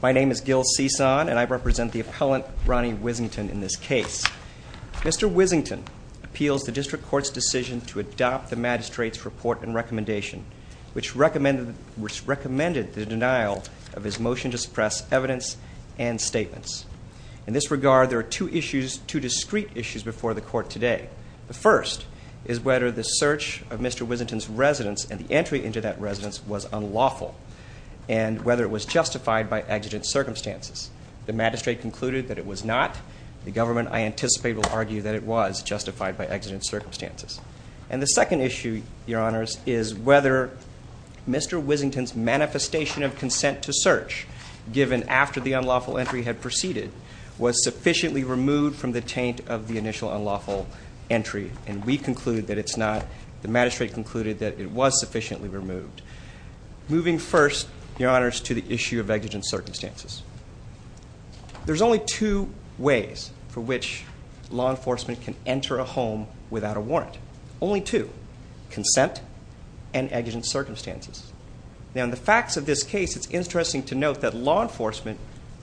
My name is Gil Cisan and I represent the appellant Ronnie Whisenton in this case. Mr. Whisenton appeals the district court's decision to adopt the magistrate's report and recommendation, which recommended the denial of his motion to suppress evidence and statements. In this regard, there are two issues, two discreet issues before the court today. The first is whether the search of Mr. Whisenton's residence and the entry into that residence was unlawful and whether it was justified by exigent circumstances. The magistrate concluded that it was not. The government, I anticipate, will argue that it was justified by exigent circumstances. And the second issue, Your Honors, is whether Mr. Whisenton's manifestation of consent to search, given after the unlawful entry had proceeded, was sufficiently removed from the taint of the initial unlawful entry. And we conclude that it's not. The magistrate concluded that it was sufficiently removed. Moving first, Your Honors, to the issue of exigent circumstances. There's only two ways for which law enforcement can enter a home without a warrant. Only two. Consent and exigent circumstances. Now, in the facts of this case, it's interesting to note that law enforcement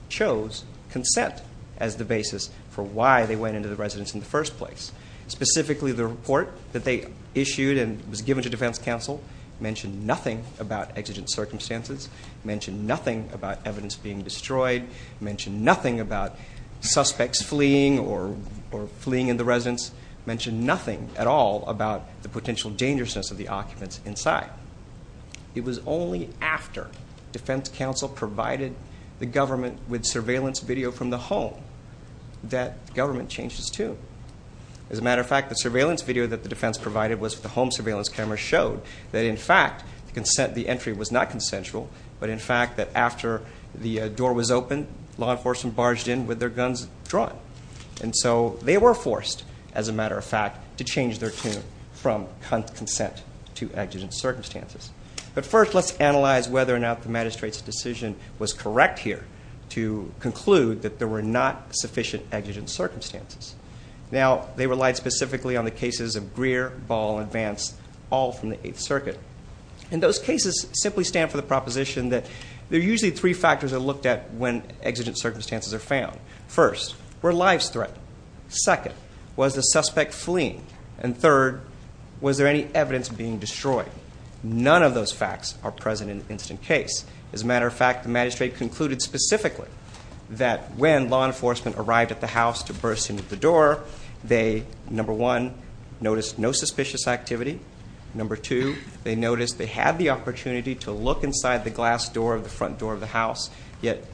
chose consent as the basis for why they went into the residence in the first place. Specifically, the report that they issued and was given to defense counsel mentioned nothing about exigent circumstances, mentioned nothing about evidence being destroyed, mentioned nothing about suspects fleeing or fleeing in the residence, mentioned nothing at all about the potential dangerousness of the occupants inside. It was only after defense counsel provided the government with surveillance video from the home that the government changed its tune. As a matter of fact, the surveillance video that the defense provided was from the home surveillance camera showed that, in fact, the consent of the entry was not consensual, but in fact that after the door was opened, law enforcement barged in with their guns drawn. And so they were forced, as a matter of fact, to change their tune from consent to exigent circumstances. But first, let's analyze whether or not the magistrate's decision was correct here to conclude that there were not sufficient exigent circumstances. Now, they relied specifically on the cases of Greer, Ball, and Vance, all from the Eighth Circuit. And those cases simply stand for the proposition that there are usually three factors that are looked at when exigent circumstances are found. First, were lives threatened? Second, was the suspect fleeing? And third, was there any evidence being destroyed? None of those facts are present in the incident case. As a matter of fact, the magistrate concluded specifically that when law enforcement arrived at the house to burst into the door, they, number one, noticed no suspicious activity. Number two, they noticed they had the opportunity to look inside the glass door of the front door of the house, yet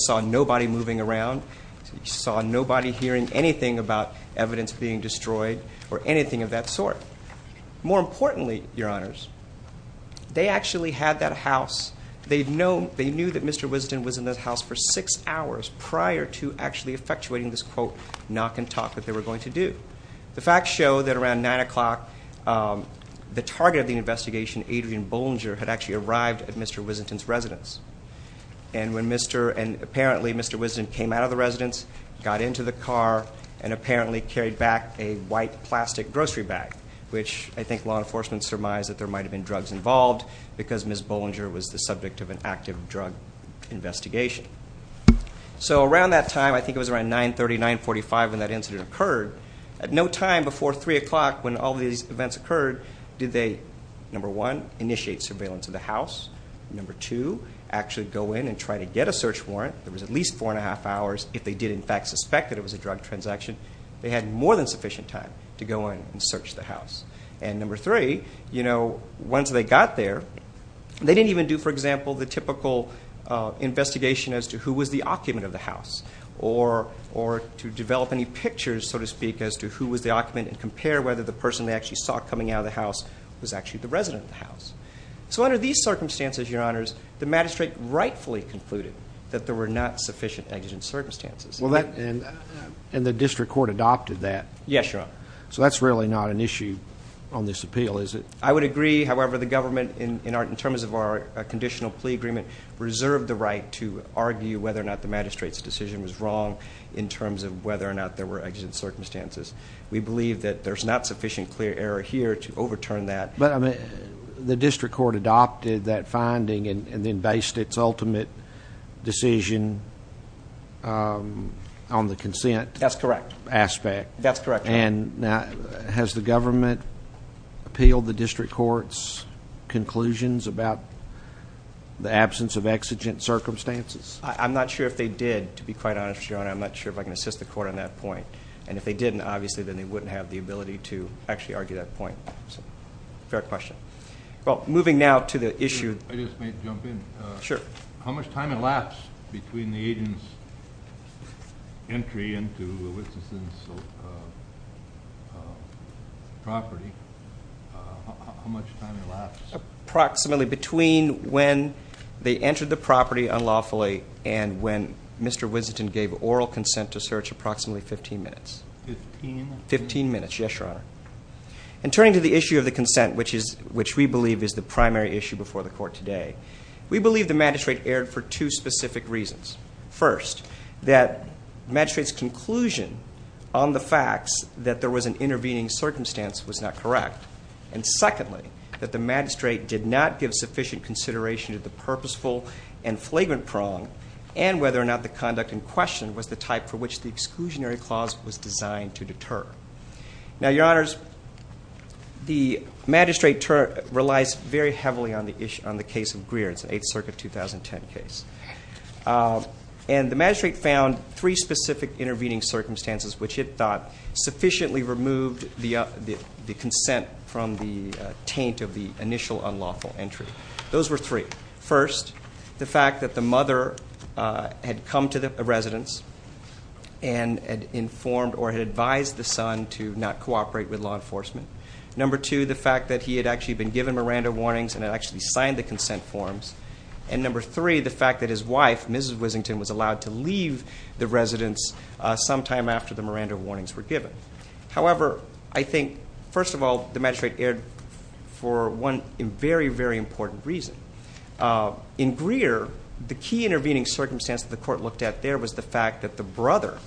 saw nobody moving around, saw nobody hearing anything about evidence being destroyed, or anything of that sort. More importantly, Your Honors, they actually had that house. They knew that Mr. Wisden was in that house for six hours prior to actually effectuating this, quote, knock and talk that they were going to do. The facts show that around 9 o'clock, the target of the investigation, Adrian Bollinger, had actually arrived at Mr. Wisden's residence. And apparently, Mr. Wisden came out of the residence, got into the car, and apparently carried back a white plastic grocery bag, which I think law enforcement surmised that there might have been drugs involved because Ms. Bollinger was the subject of an active drug investigation. So around that time, I think it was around 9.30, 9.45 when that incident occurred, at no time before 3 o'clock when all these events occurred, did they, number one, initiate surveillance of the house. Number two, actually go in and try to get a search warrant. There was at least four and a half hours. If they did in fact suspect that it was a drug transaction, they had more than sufficient time to go in and search the house. And number three, you know, once they got there, they didn't even do, for example, the typical investigation as to who was the occupant of the house or to develop any pictures, so to speak, as to who was the occupant and compare whether the person they actually saw coming out of the house was actually the resident of the house. So under these circumstances, Your Honors, the magistrate rightfully concluded that there were not sufficient exigent circumstances. And the district court adopted that? Yes, Your Honor. So that's really not an issue on this appeal, is it? I would agree. However, the government, in terms of our conditional plea agreement, reserved the right to argue whether or not the magistrate's decision was wrong in terms of whether or not there were exigent circumstances. We believe that there's not sufficient clear error here to overturn that. But the district court adopted that finding and then based its ultimate decision on the consent aspect. That's correct. And has the government appealed the district court's conclusions about the absence of exigent circumstances? I'm not sure if they did, to be quite honest, Your Honor. I'm not sure if I can assist the court on that point. And if they didn't, obviously, then they wouldn't have the ability to actually argue that point. Fair question. Well, moving now to the issue. I just may jump in. Sure. How much time elapsed between the agent's entry into Winston's property? How much time elapsed? Approximately between when they entered the property unlawfully and when Mr. Winston gave oral consent to search, approximately 15 minutes. Fifteen minutes. Yes, Your Honor. And turning to the issue of the consent, which we believe is the primary issue before the court today, we believe the magistrate erred for two specific reasons. First, that magistrate's conclusion on the facts that there was an intervening circumstance was not correct. And secondly, that the magistrate did not give sufficient consideration to the purposeful and flagrant prong and whether or not the conduct in question was the type for which the exclusionary clause was designed to deter. Now, Your Honors, the magistrate relies very heavily on the case of Greer. It's an Eighth Circuit 2010 case. And the magistrate found three specific intervening circumstances which it thought sufficiently removed the consent from the taint of the initial unlawful entry. Those were three. First, the fact that the mother had come to the residence and had informed or had advised the son to not cooperate with law enforcement. Number two, the fact that he had actually been given Miranda warnings and had actually signed the consent forms. And number three, the fact that his wife, Mrs. Wissington, was allowed to leave the residence sometime after the Miranda warnings were given. However, I think, first of all, the magistrate erred for one very, very important reason. In Greer, the key intervening circumstance that the court looked at there was the fact that the brother,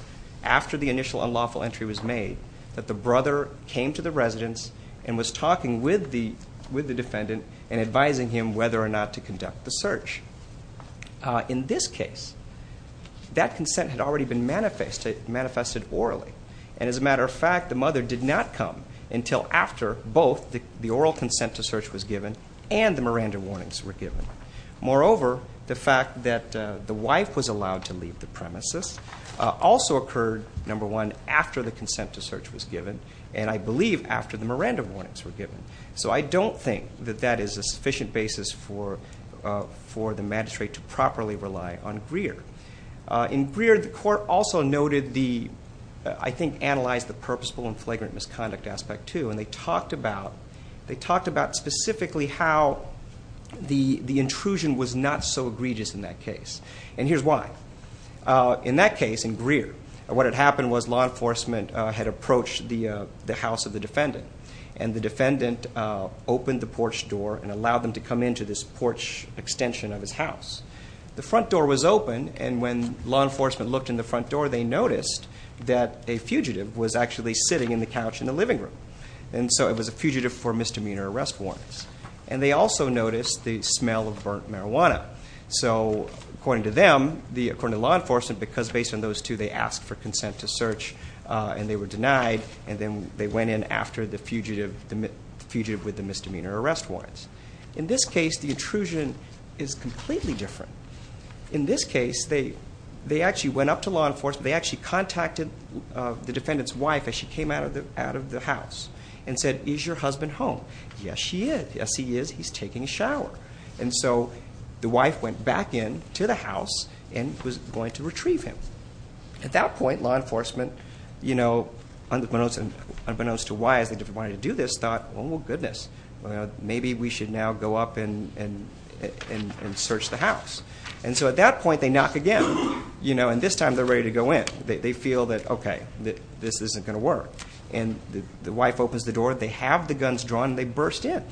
after the initial unlawful entry was made, that the brother came to the residence and was talking with the defendant and advising him whether or not to conduct the search. In this case, that consent had already been manifested orally. And as a matter of fact, the mother did not come until after both the oral consent to search was given and the Miranda warnings were given. Moreover, the fact that the wife was allowed to leave the premises also occurred, number one, after the consent to search was given and I believe after the Miranda warnings were given. So I don't think that that is a sufficient basis for the magistrate to properly rely on Greer. In Greer, the court also noted the, I think, analyzed the purposeful and flagrant misconduct aspect, too, and they talked about specifically how the intrusion was not so egregious in that case. And here's why. In that case, in Greer, what had happened was law enforcement had approached the house of the defendant and the defendant opened the porch door and allowed them to come into this porch extension of his house. The front door was open and when law enforcement looked in the front door, they noticed that a fugitive was actually sitting in the couch in the living room. And so it was a fugitive for misdemeanor arrest warrants. And they also noticed the smell of burnt marijuana. So according to them, according to law enforcement, because based on those two, they asked for consent to search and they were denied and then they went in after the fugitive with the misdemeanor arrest warrants. In this case, the intrusion is completely different. In this case, they actually went up to law enforcement. They actually contacted the defendant's wife as she came out of the house and said, Is your husband home? Yes, he is. He's taking a shower. And so the wife went back in to the house and was going to retrieve him. At that point, law enforcement, you know, unbeknownst to why they wanted to do this, thought, Oh, goodness, maybe we should now go up and search the house. And so at that point, they knock again, you know, and this time they're ready to go in. They feel that, okay, this isn't going to work. And the wife opens the door, they have the guns drawn, and they burst in.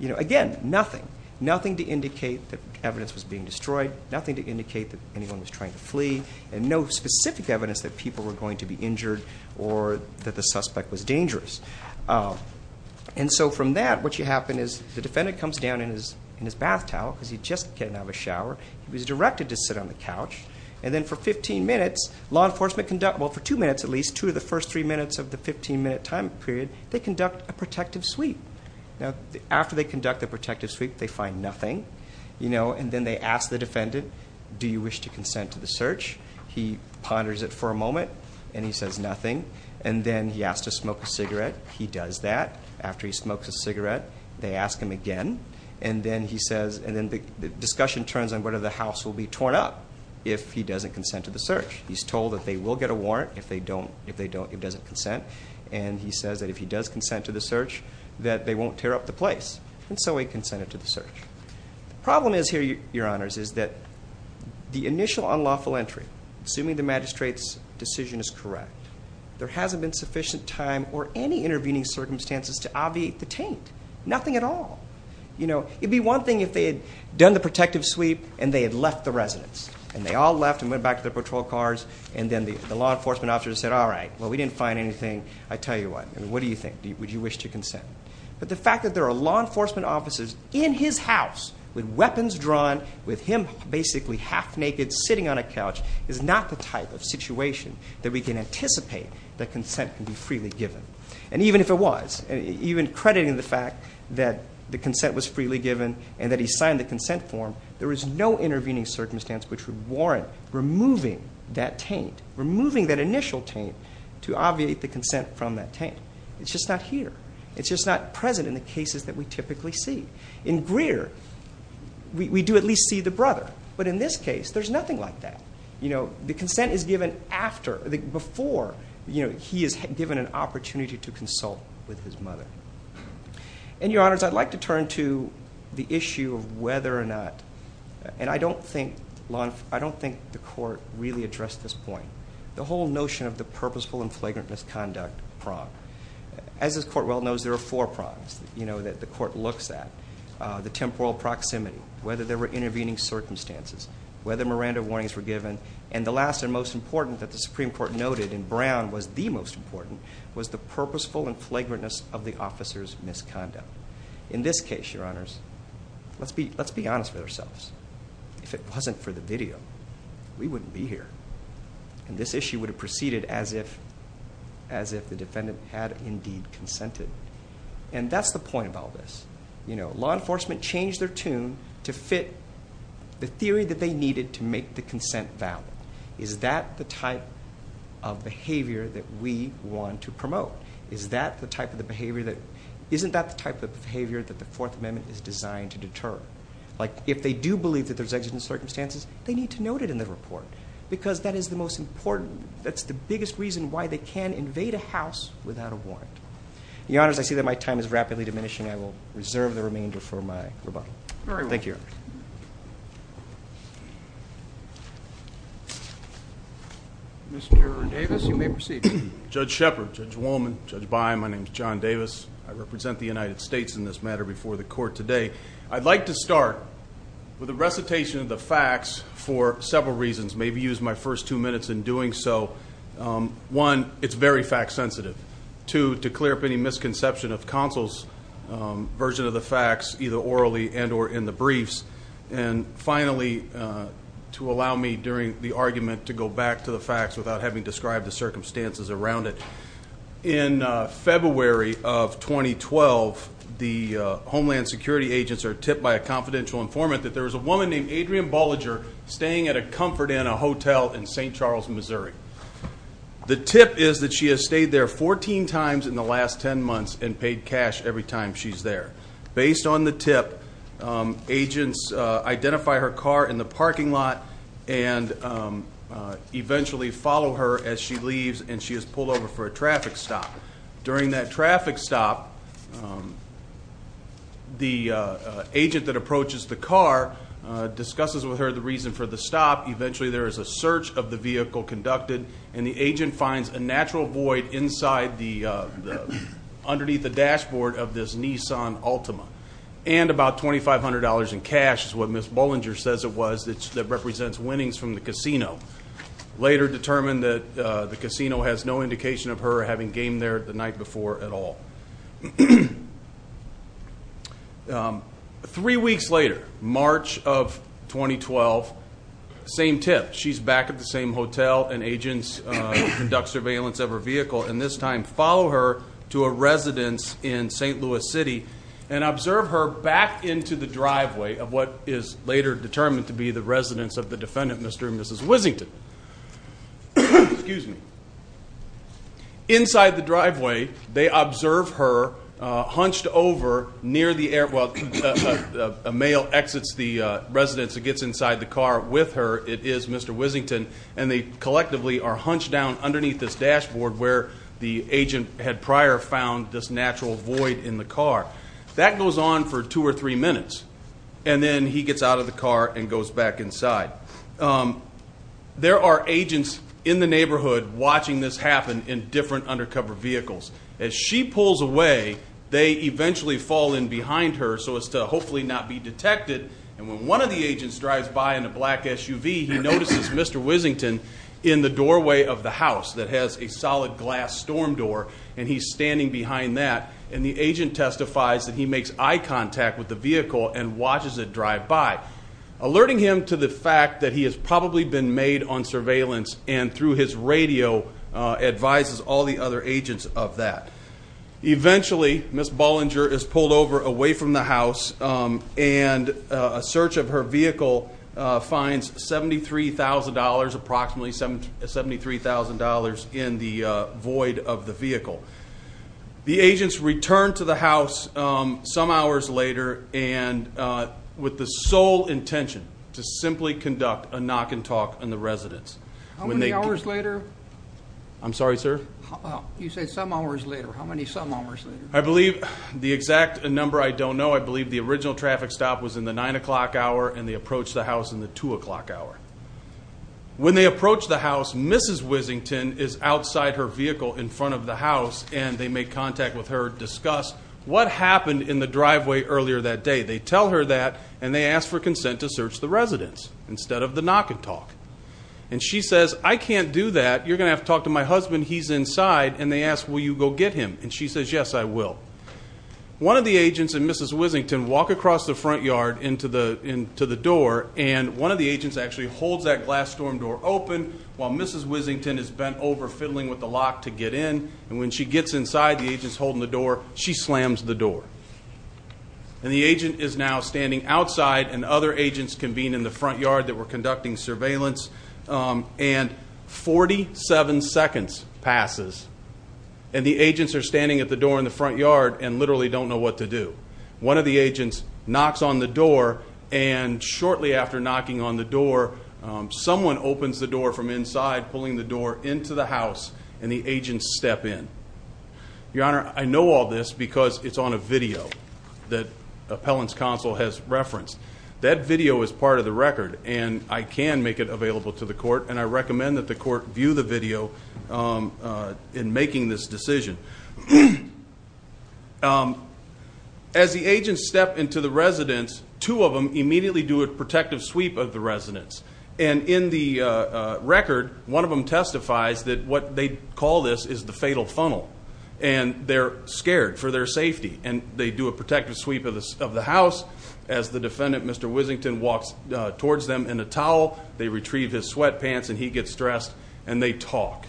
Again, nothing, nothing to indicate that evidence was being destroyed, nothing to indicate that anyone was trying to flee, and no specific evidence that people were going to be injured or that the suspect was dangerous. And so from that, what happened is the defendant comes down in his bath towel because he just came out of the shower. He was directed to sit on the couch. And then for 15 minutes, law enforcement conducted, well, for two minutes at least, two of the first three minutes of the 15-minute time period, they conduct a protective sweep. Now, after they conduct the protective sweep, they find nothing, you know, and then they ask the defendant, Do you wish to consent to the search? He ponders it for a moment, and he says nothing. And then he asks to smoke a cigarette. He does that. After he smokes a cigarette, they ask him again. And then he says, and then the discussion turns on whether the house will be torn up if he doesn't consent to the search. He's told that they will get a warrant if they don't, if he doesn't consent. And he says that if he does consent to the search, that they won't tear up the place. And so he consented to the search. The problem is here, Your Honors, is that the initial unlawful entry, assuming the magistrate's decision is correct, there hasn't been sufficient time or any intervening circumstances to obviate the taint. Nothing at all. You know, it would be one thing if they had done the protective sweep and they had left the residence. And they all left and went back to their patrol cars, and then the law enforcement officer said, All right, well, we didn't find anything. I tell you what. What do you think? Would you wish to consent? But the fact that there are law enforcement officers in his house with weapons drawn, with him basically half naked sitting on a couch, is not the type of situation that we can anticipate that consent can be freely given. And even if it was, even crediting the fact that the consent was freely given and that he signed the consent form, there is no intervening circumstance which would warrant removing that taint, removing that initial taint, to obviate the consent from that taint. It's just not here. It's just not present in the cases that we typically see. In Greer, we do at least see the brother. But in this case, there's nothing like that. You know, the consent is given before he is given an opportunity to consult with his mother. And, Your Honors, I'd like to turn to the issue of whether or not, and I don't think the court really addressed this point, the whole notion of the purposeful and flagrant misconduct prong. As this court well knows, there are four prongs that the court looks at. The temporal proximity, whether there were intervening circumstances, whether Miranda warnings were given, and the last and most important that the Supreme Court noted, and Brown was the most important, was the purposeful and flagrantness of the officer's misconduct. In this case, Your Honors, let's be honest with ourselves. If it wasn't for the video, we wouldn't be here. And this issue would have proceeded as if the defendant had indeed consented. And that's the point of all this. Law enforcement changed their tune to fit the theory that they needed to make the consent valid. Is that the type of behavior that we want to promote? Isn't that the type of behavior that the Fourth Amendment is designed to deter? Like if they do believe that there's exigent circumstances, they need to note it in the report because that is the most important. That's the biggest reason why they can invade a house without a warrant. Your Honors, I see that my time is rapidly diminishing. I will reserve the remainder for my rebuttal. Thank you. Mr. Davis, you may proceed. Judge Shepard, Judge Wolman, Judge Byne, my name is John Davis. I represent the United States in this matter before the court today. I'd like to start with a recitation of the facts for several reasons. Maybe use my first two minutes in doing so. One, it's very fact sensitive. Two, to clear up any misconception of counsel's version of the facts, either orally and or in the briefs. And finally, to allow me during the argument to go back to the facts without having described the circumstances around it. In February of 2012, the Homeland Security agents are tipped by a confidential informant that there was a woman named Adrienne Bolliger staying at a Comfort Inn, a hotel in St. Charles, Missouri. The tip is that she has stayed there 14 times in the last 10 months and paid cash every time she's there. Based on the tip, agents identify her car in the parking lot and eventually follow her as she leaves and she is pulled over for a traffic stop. During that traffic stop, the agent that approaches the car discusses with her the reason for the stop. Eventually there is a search of the vehicle conducted and the agent finds a natural void underneath the dashboard of this Nissan Altima. And about $2,500 in cash is what Ms. Bolliger says it was that represents winnings from the casino. Later determined that the casino has no indication of her having gamed there the night before at all. Three weeks later, March of 2012, same tip. She's back at the same hotel and agents conduct surveillance of her vehicle and this time follow her to a residence in St. Louis City and observe her back into the driveway of what is later determined to be the residence of the defendant, Mr. and Mrs. Wissington. Inside the driveway, they observe her hunched over near the air... well, a male exits the residence and gets inside the car with her. It is Mr. Wissington and they collectively are hunched down underneath this dashboard where the agent had prior found this natural void in the car. That goes on for two or three minutes and then he gets out of the car and goes back inside. There are agents in the neighborhood watching this happen in different undercover vehicles. As she pulls away, they eventually fall in behind her so as to hopefully not be detected and when one of the agents drives by in a black SUV, he notices Mr. Wissington in the doorway of the house that has a solid glass storm door and he's standing behind that and the agent testifies that he makes eye contact with the vehicle and watches it drive by, alerting him to the fact that he has probably been made on surveillance and through his radio advises all the other agents of that. Eventually, Ms. Bollinger is pulled over away from the house and a search of her vehicle finds approximately $73,000 in the void of the vehicle. The agents return to the house some hours later and with the sole intention to simply conduct a knock and talk in the residence. How many hours later? I'm sorry, sir? You said some hours later. How many some hours later? I believe the exact number I don't know. I believe the original traffic stop was in the 9 o'clock hour and they approached the house in the 2 o'clock hour. When they approached the house, Mrs. Wissington is outside her vehicle in front of the house and they make contact with her, discuss what happened in the driveway earlier that day. They tell her that and they ask for consent to search the residence instead of the knock and talk and she says, I can't do that. You're going to have to talk to my husband. When he's inside and they ask, will you go get him? And she says, yes, I will. One of the agents and Mrs. Wissington walk across the front yard into the door and one of the agents actually holds that glass storm door open while Mrs. Wissington is bent over, fiddling with the lock to get in and when she gets inside, the agent's holding the door, she slams the door. And the agent is now standing outside and other agents convene in the front yard that were conducting surveillance and 47 seconds passes and the agents are standing at the door in the front yard and literally don't know what to do. One of the agents knocks on the door and shortly after knocking on the door, someone opens the door from inside, pulling the door into the house and the agents step in. Your Honor, I know all this because it's on a video that Appellant's Counsel has referenced. That video is part of the record and I can make it available to the court and I recommend that the court view the video in making this decision. As the agents step into the residence, two of them immediately do a protective sweep of the residence and in the record, one of them testifies that what they call this is the fatal funnel and they're scared for their safety and they do a protective sweep of the house as the defendant, Mr. Whisington, walks towards them in a towel. They retrieve his sweatpants and he gets dressed and they talk.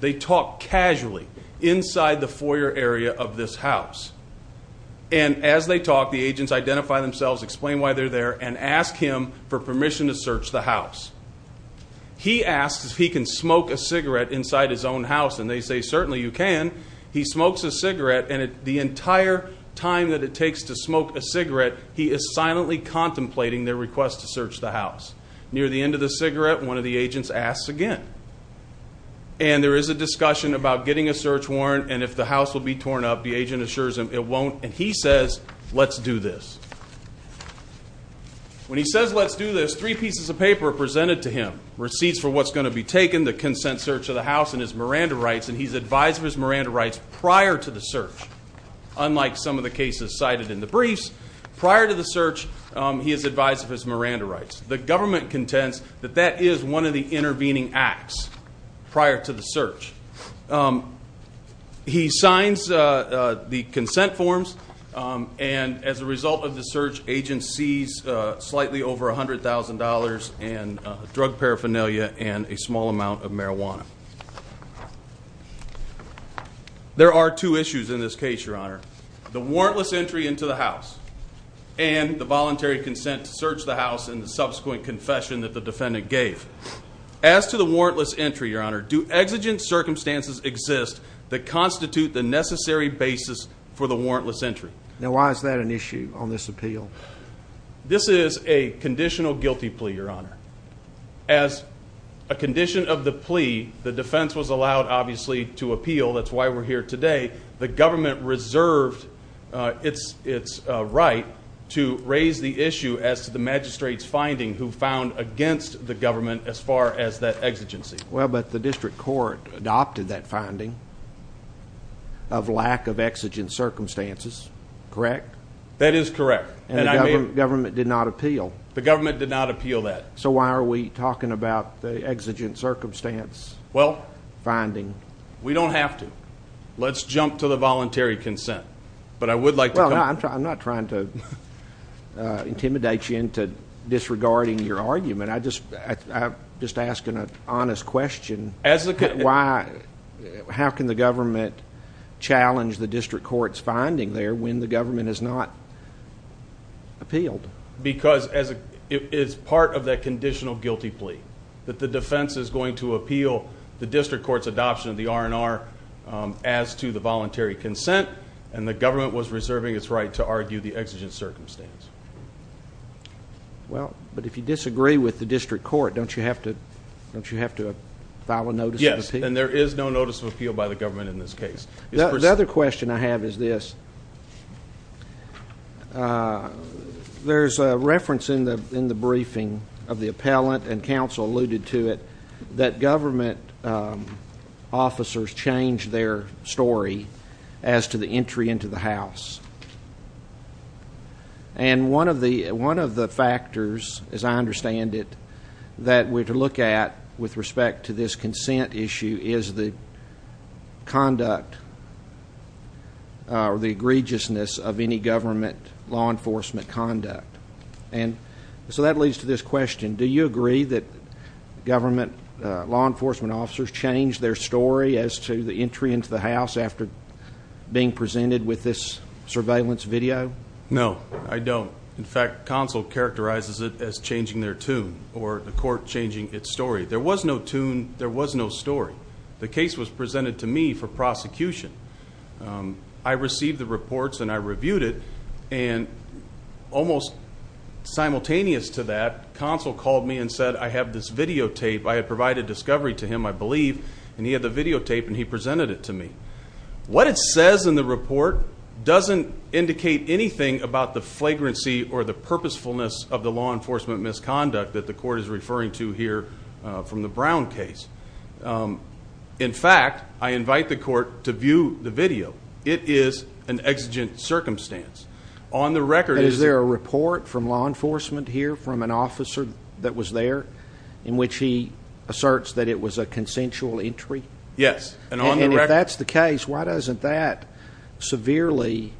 They talk casually inside the foyer area of this house. And as they talk, the agents identify themselves, explain why they're there, and ask him for permission to search the house. He asks if he can smoke a cigarette inside his own house and they say, certainly you can. He smokes a cigarette and the entire time that it takes to smoke a cigarette, he is silently contemplating their request to search the house. Near the end of the cigarette, one of the agents asks again. And there is a discussion about getting a search warrant and if the house will be torn up, the agent assures him it won't, and he says, let's do this. When he says, let's do this, three pieces of paper are presented to him, receipts for what's going to be taken, the consent search of the house, and his Miranda rights, and he's advised of his Miranda rights prior to the search. Unlike some of the cases cited in the briefs, prior to the search, he is advised of his Miranda rights. The government contends that that is one of the intervening acts prior to the search. He signs the consent forms, and as a result of the search, agent sees slightly over $100,000 in drug paraphernalia and a small amount of marijuana. There are two issues in this case, Your Honor. The warrantless entry into the house and the voluntary consent to search the house and the subsequent confession that the defendant gave. As to the warrantless entry, Your Honor, do exigent circumstances exist that constitute the necessary basis for the warrantless entry? Now, why is that an issue on this appeal? This is a conditional guilty plea, Your Honor. As a condition of the plea, the defense was allowed, obviously, to appeal. That's why we're here today. The government reserved its right to raise the issue as to the magistrate's finding who found against the government as far as that exigency. Well, but the district court adopted that finding of lack of exigent circumstances, correct? That is correct. And the government did not appeal. The government did not appeal that. So why are we talking about the exigent circumstance finding? Well, we don't have to. Let's jump to the voluntary consent. But I would like to come to that. Well, I'm not trying to intimidate you into disregarding your argument. I'm just asking an honest question. Why? How can the government challenge the district court's finding there when the government has not appealed? Because it's part of that conditional guilty plea, that the defense is going to appeal the district court's adoption of the R&R as to the voluntary consent, and the government was reserving its right to argue the exigent circumstance. Well, but if you disagree with the district court, don't you have to file a notice of appeal? Yes, and there is no notice of appeal by the government in this case. The other question I have is this. There's a reference in the briefing of the appellant, and counsel alluded to it, that government officers change their story as to the entry into the house. And one of the factors, as I understand it, that we're to look at with respect to this consent issue is the conduct or the egregiousness of any government law enforcement conduct. And so that leads to this question. Do you agree that government law enforcement officers change their story as to the entry into the house after being presented with this surveillance video? No, I don't. In fact, counsel characterizes it as changing their tune or the court changing its story. There was no tune. There was no story. The case was presented to me for prosecution. I received the reports, and I reviewed it. And almost simultaneous to that, counsel called me and said, I have this videotape, I have provided discovery to him, I believe, and he had the videotape and he presented it to me. What it says in the report doesn't indicate anything about the flagrancy or the purposefulness of the law enforcement misconduct that the court is referring to here from the Brown case. So it is an exigent circumstance. On the record is there a report from law enforcement here from an officer that was there in which he asserts that it was a consensual entry? Yes. And if that's the case, why doesn't that severely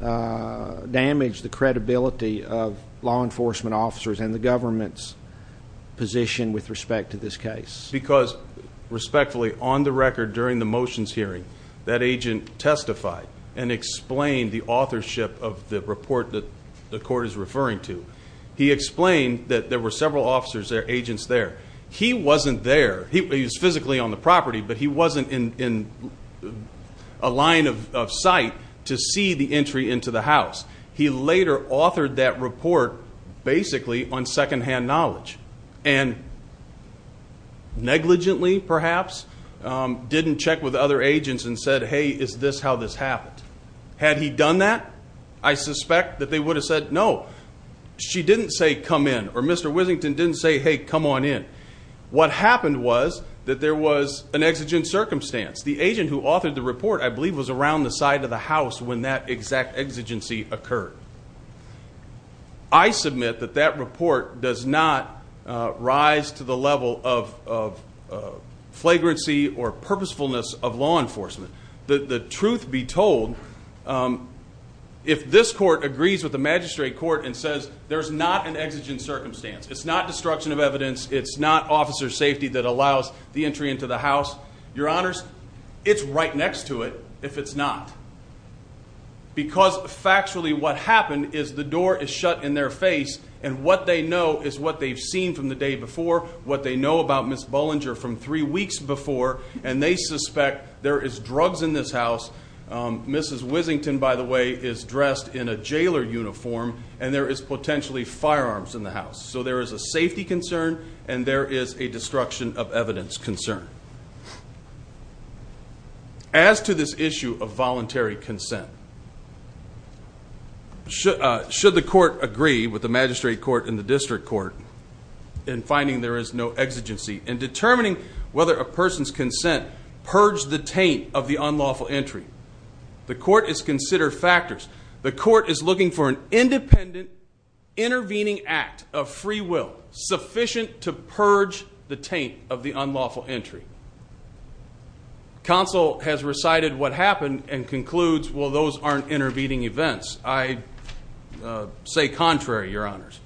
damage the credibility of law enforcement officers and the government's position with respect to this case? Because, respectfully, on the record during the motions hearing, that agent testified and explained the authorship of the report that the court is referring to. He explained that there were several officers, agents there. He wasn't there. He was physically on the property, but he wasn't in a line of sight to see the entry into the house. He later authored that report basically on secondhand knowledge. And negligently, perhaps, didn't check with other agents and said, hey, is this how this happened? Had he done that, I suspect that they would have said no. She didn't say come in. Or Mr. Wissington didn't say, hey, come on in. What happened was that there was an exigent circumstance. The agent who authored the report, I believe, was around the side of the house when that exact exigency occurred. I submit that that report does not rise to the level of flagrancy or purposefulness of law enforcement. The truth be told, if this court agrees with the magistrate court and says there's not an exigent circumstance, it's not destruction of evidence, it's not officer safety that allows the entry into the house, your honors, it's right next to it if it's not. Because factually what happened is the door is shut in their face, and what they know is what they've seen from the day before, what they know about Ms. Bollinger from three weeks before, and they suspect there is drugs in this house. Mrs. Wissington, by the way, is dressed in a jailer uniform, and there is potentially firearms in the house. So there is a safety concern and there is a destruction of evidence concern. As to this issue of voluntary consent, should the court agree with the magistrate court and the district court in finding there is no exigency in determining whether a person's consent purged the taint of the unlawful entry? The court is considered factors. The court is looking for an independent intervening act of free will sufficient to purge the taint of the unlawful entry. Counsel has recited what happened and concludes, well, those aren't intervening events. I say contrary, your honors.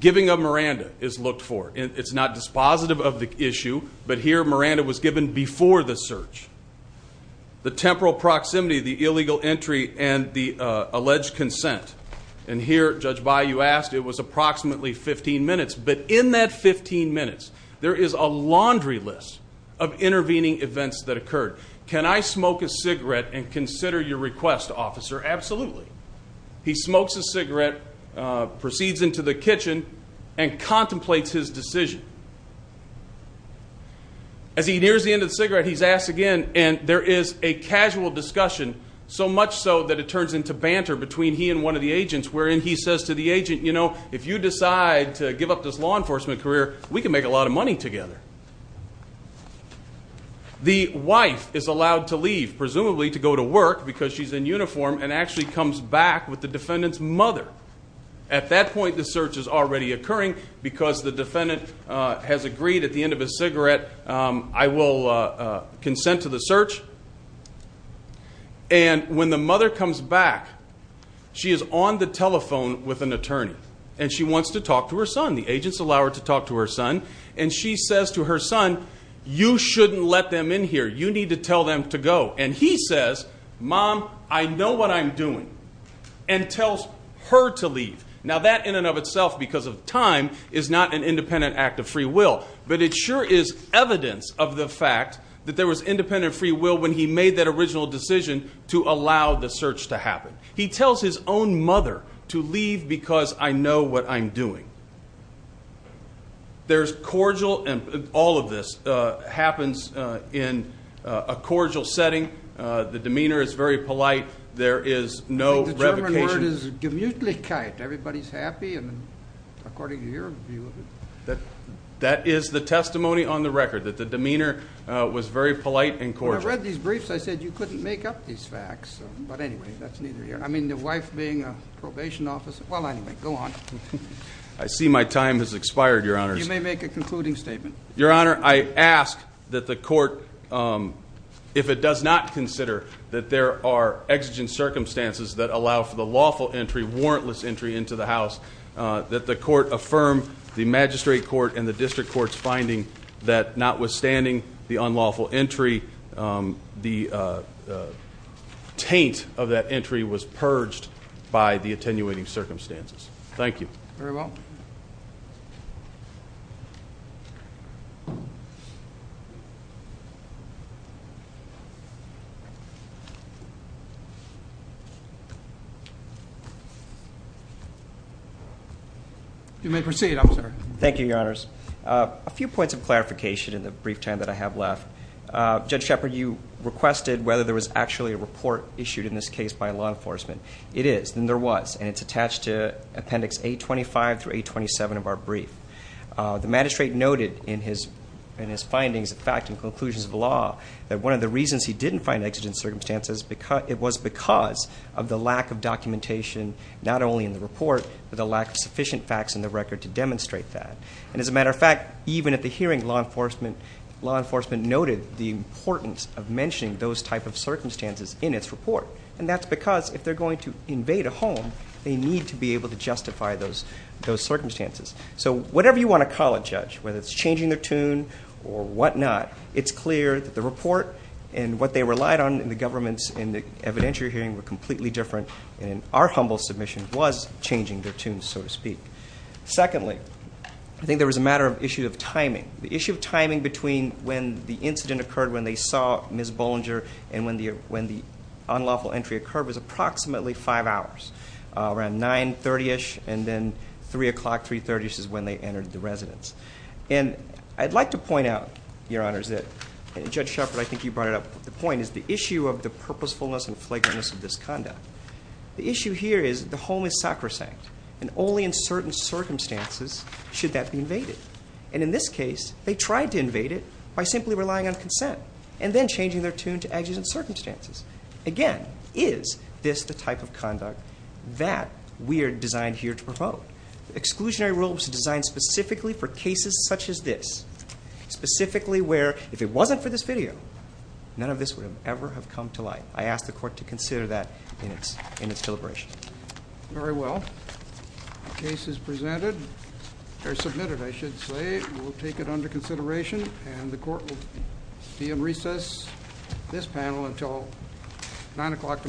Giving of Miranda is looked for. It's not dispositive of the issue, but here Miranda was given before the search. The temporal proximity, the illegal entry, and the alleged consent. And here, Judge Bayou asked, it was approximately 15 minutes. But in that 15 minutes, there is a laundry list of intervening events that occurred. Can I smoke a cigarette and consider your request, officer? Absolutely. He smokes a cigarette, proceeds into the kitchen, and contemplates his decision. As he nears the end of the cigarette, he's asked again, and there is a casual discussion, so much so that it turns into banter between he and one of the agents, wherein he says to the agent, you know, if you decide to give up this law enforcement career, we can make a lot of money together. The wife is allowed to leave, presumably to go to work because she's in uniform, and actually comes back with the defendant's mother. At that point, the search is already occurring because the defendant has agreed at the end of his cigarette, I will consent to the search. And when the mother comes back, she is on the telephone with an attorney, and she wants to talk to her son. The agents allow her to talk to her son. And she says to her son, you shouldn't let them in here. You need to tell them to go. And he says, Mom, I know what I'm doing, and tells her to leave. Now, that in and of itself, because of time, is not an independent act of free will. But it sure is evidence of the fact that there was independent free will when he made that original decision to allow the search to happen. He tells his own mother to leave because I know what I'm doing. There's cordial, and all of this happens in a cordial setting. The demeanor is very polite. There is no revocation. Everybody's happy, and according to your view of it. That is the testimony on the record, that the demeanor was very polite and cordial. When I read these briefs, I said you couldn't make up these facts. But anyway, that's neither here. I mean, the wife being a probation officer. Well, anyway, go on. I see my time has expired, Your Honors. You may make a concluding statement. Your Honor, I ask that the court, if it does not consider that there are exigent circumstances that allow for the lawful entry, warrantless entry into the house, that the court affirm the magistrate court and the district court's finding that notwithstanding the unlawful entry, the taint of that entry was purged by the attenuating circumstances. Thank you. Very well. You may proceed, officer. Thank you, Your Honors. A few points of clarification in the brief time that I have left. Judge Shepherd, you requested whether there was actually a report issued in this case by law enforcement. It is, and there was. And it's attached to Appendix 825 through 827 of our brief. The magistrate noted in his findings, in fact, in conclusions of the law, that one of the reasons he didn't find exigent circumstances was because of the lack of documentation not only in the report, but the lack of sufficient facts in the record to demonstrate that. And as a matter of fact, even at the hearing, law enforcement noted the importance of mentioning those type of circumstances in its report. And that's because if they're going to invade a home, they need to be able to justify those circumstances. So whatever you want to call it, Judge, whether it's changing their tune or whatnot, it's clear that the report and what they relied on in the government's evidentiary hearing were completely different. And our humble submission was changing their tunes, so to speak. Secondly, I think there was a matter of issue of timing. The issue of timing between when the incident occurred, when they saw Ms. Bollinger, and when the unlawful entry occurred was approximately five hours, around 930-ish, and then 3 o'clock, 330-ish is when they entered the residence. And I'd like to point out, Your Honors, that Judge Shepard, I think you brought it up, the point is the issue of the purposefulness and flagrantness of this conduct. The issue here is the home is sacrosanct, and only in certain circumstances should that be invaded. And in this case, they tried to invade it by simply relying on consent and then changing their tune to agitate circumstances. Again, is this the type of conduct that we are designed here to promote? The exclusionary rule was designed specifically for cases such as this, specifically where if it wasn't for this video, none of this would ever have come to light. I ask the Court to consider that in its deliberation. Very well. The case is submitted, I should say. We'll take it under consideration, and the Court will be in recess, this panel, until 9 o'clock tomorrow.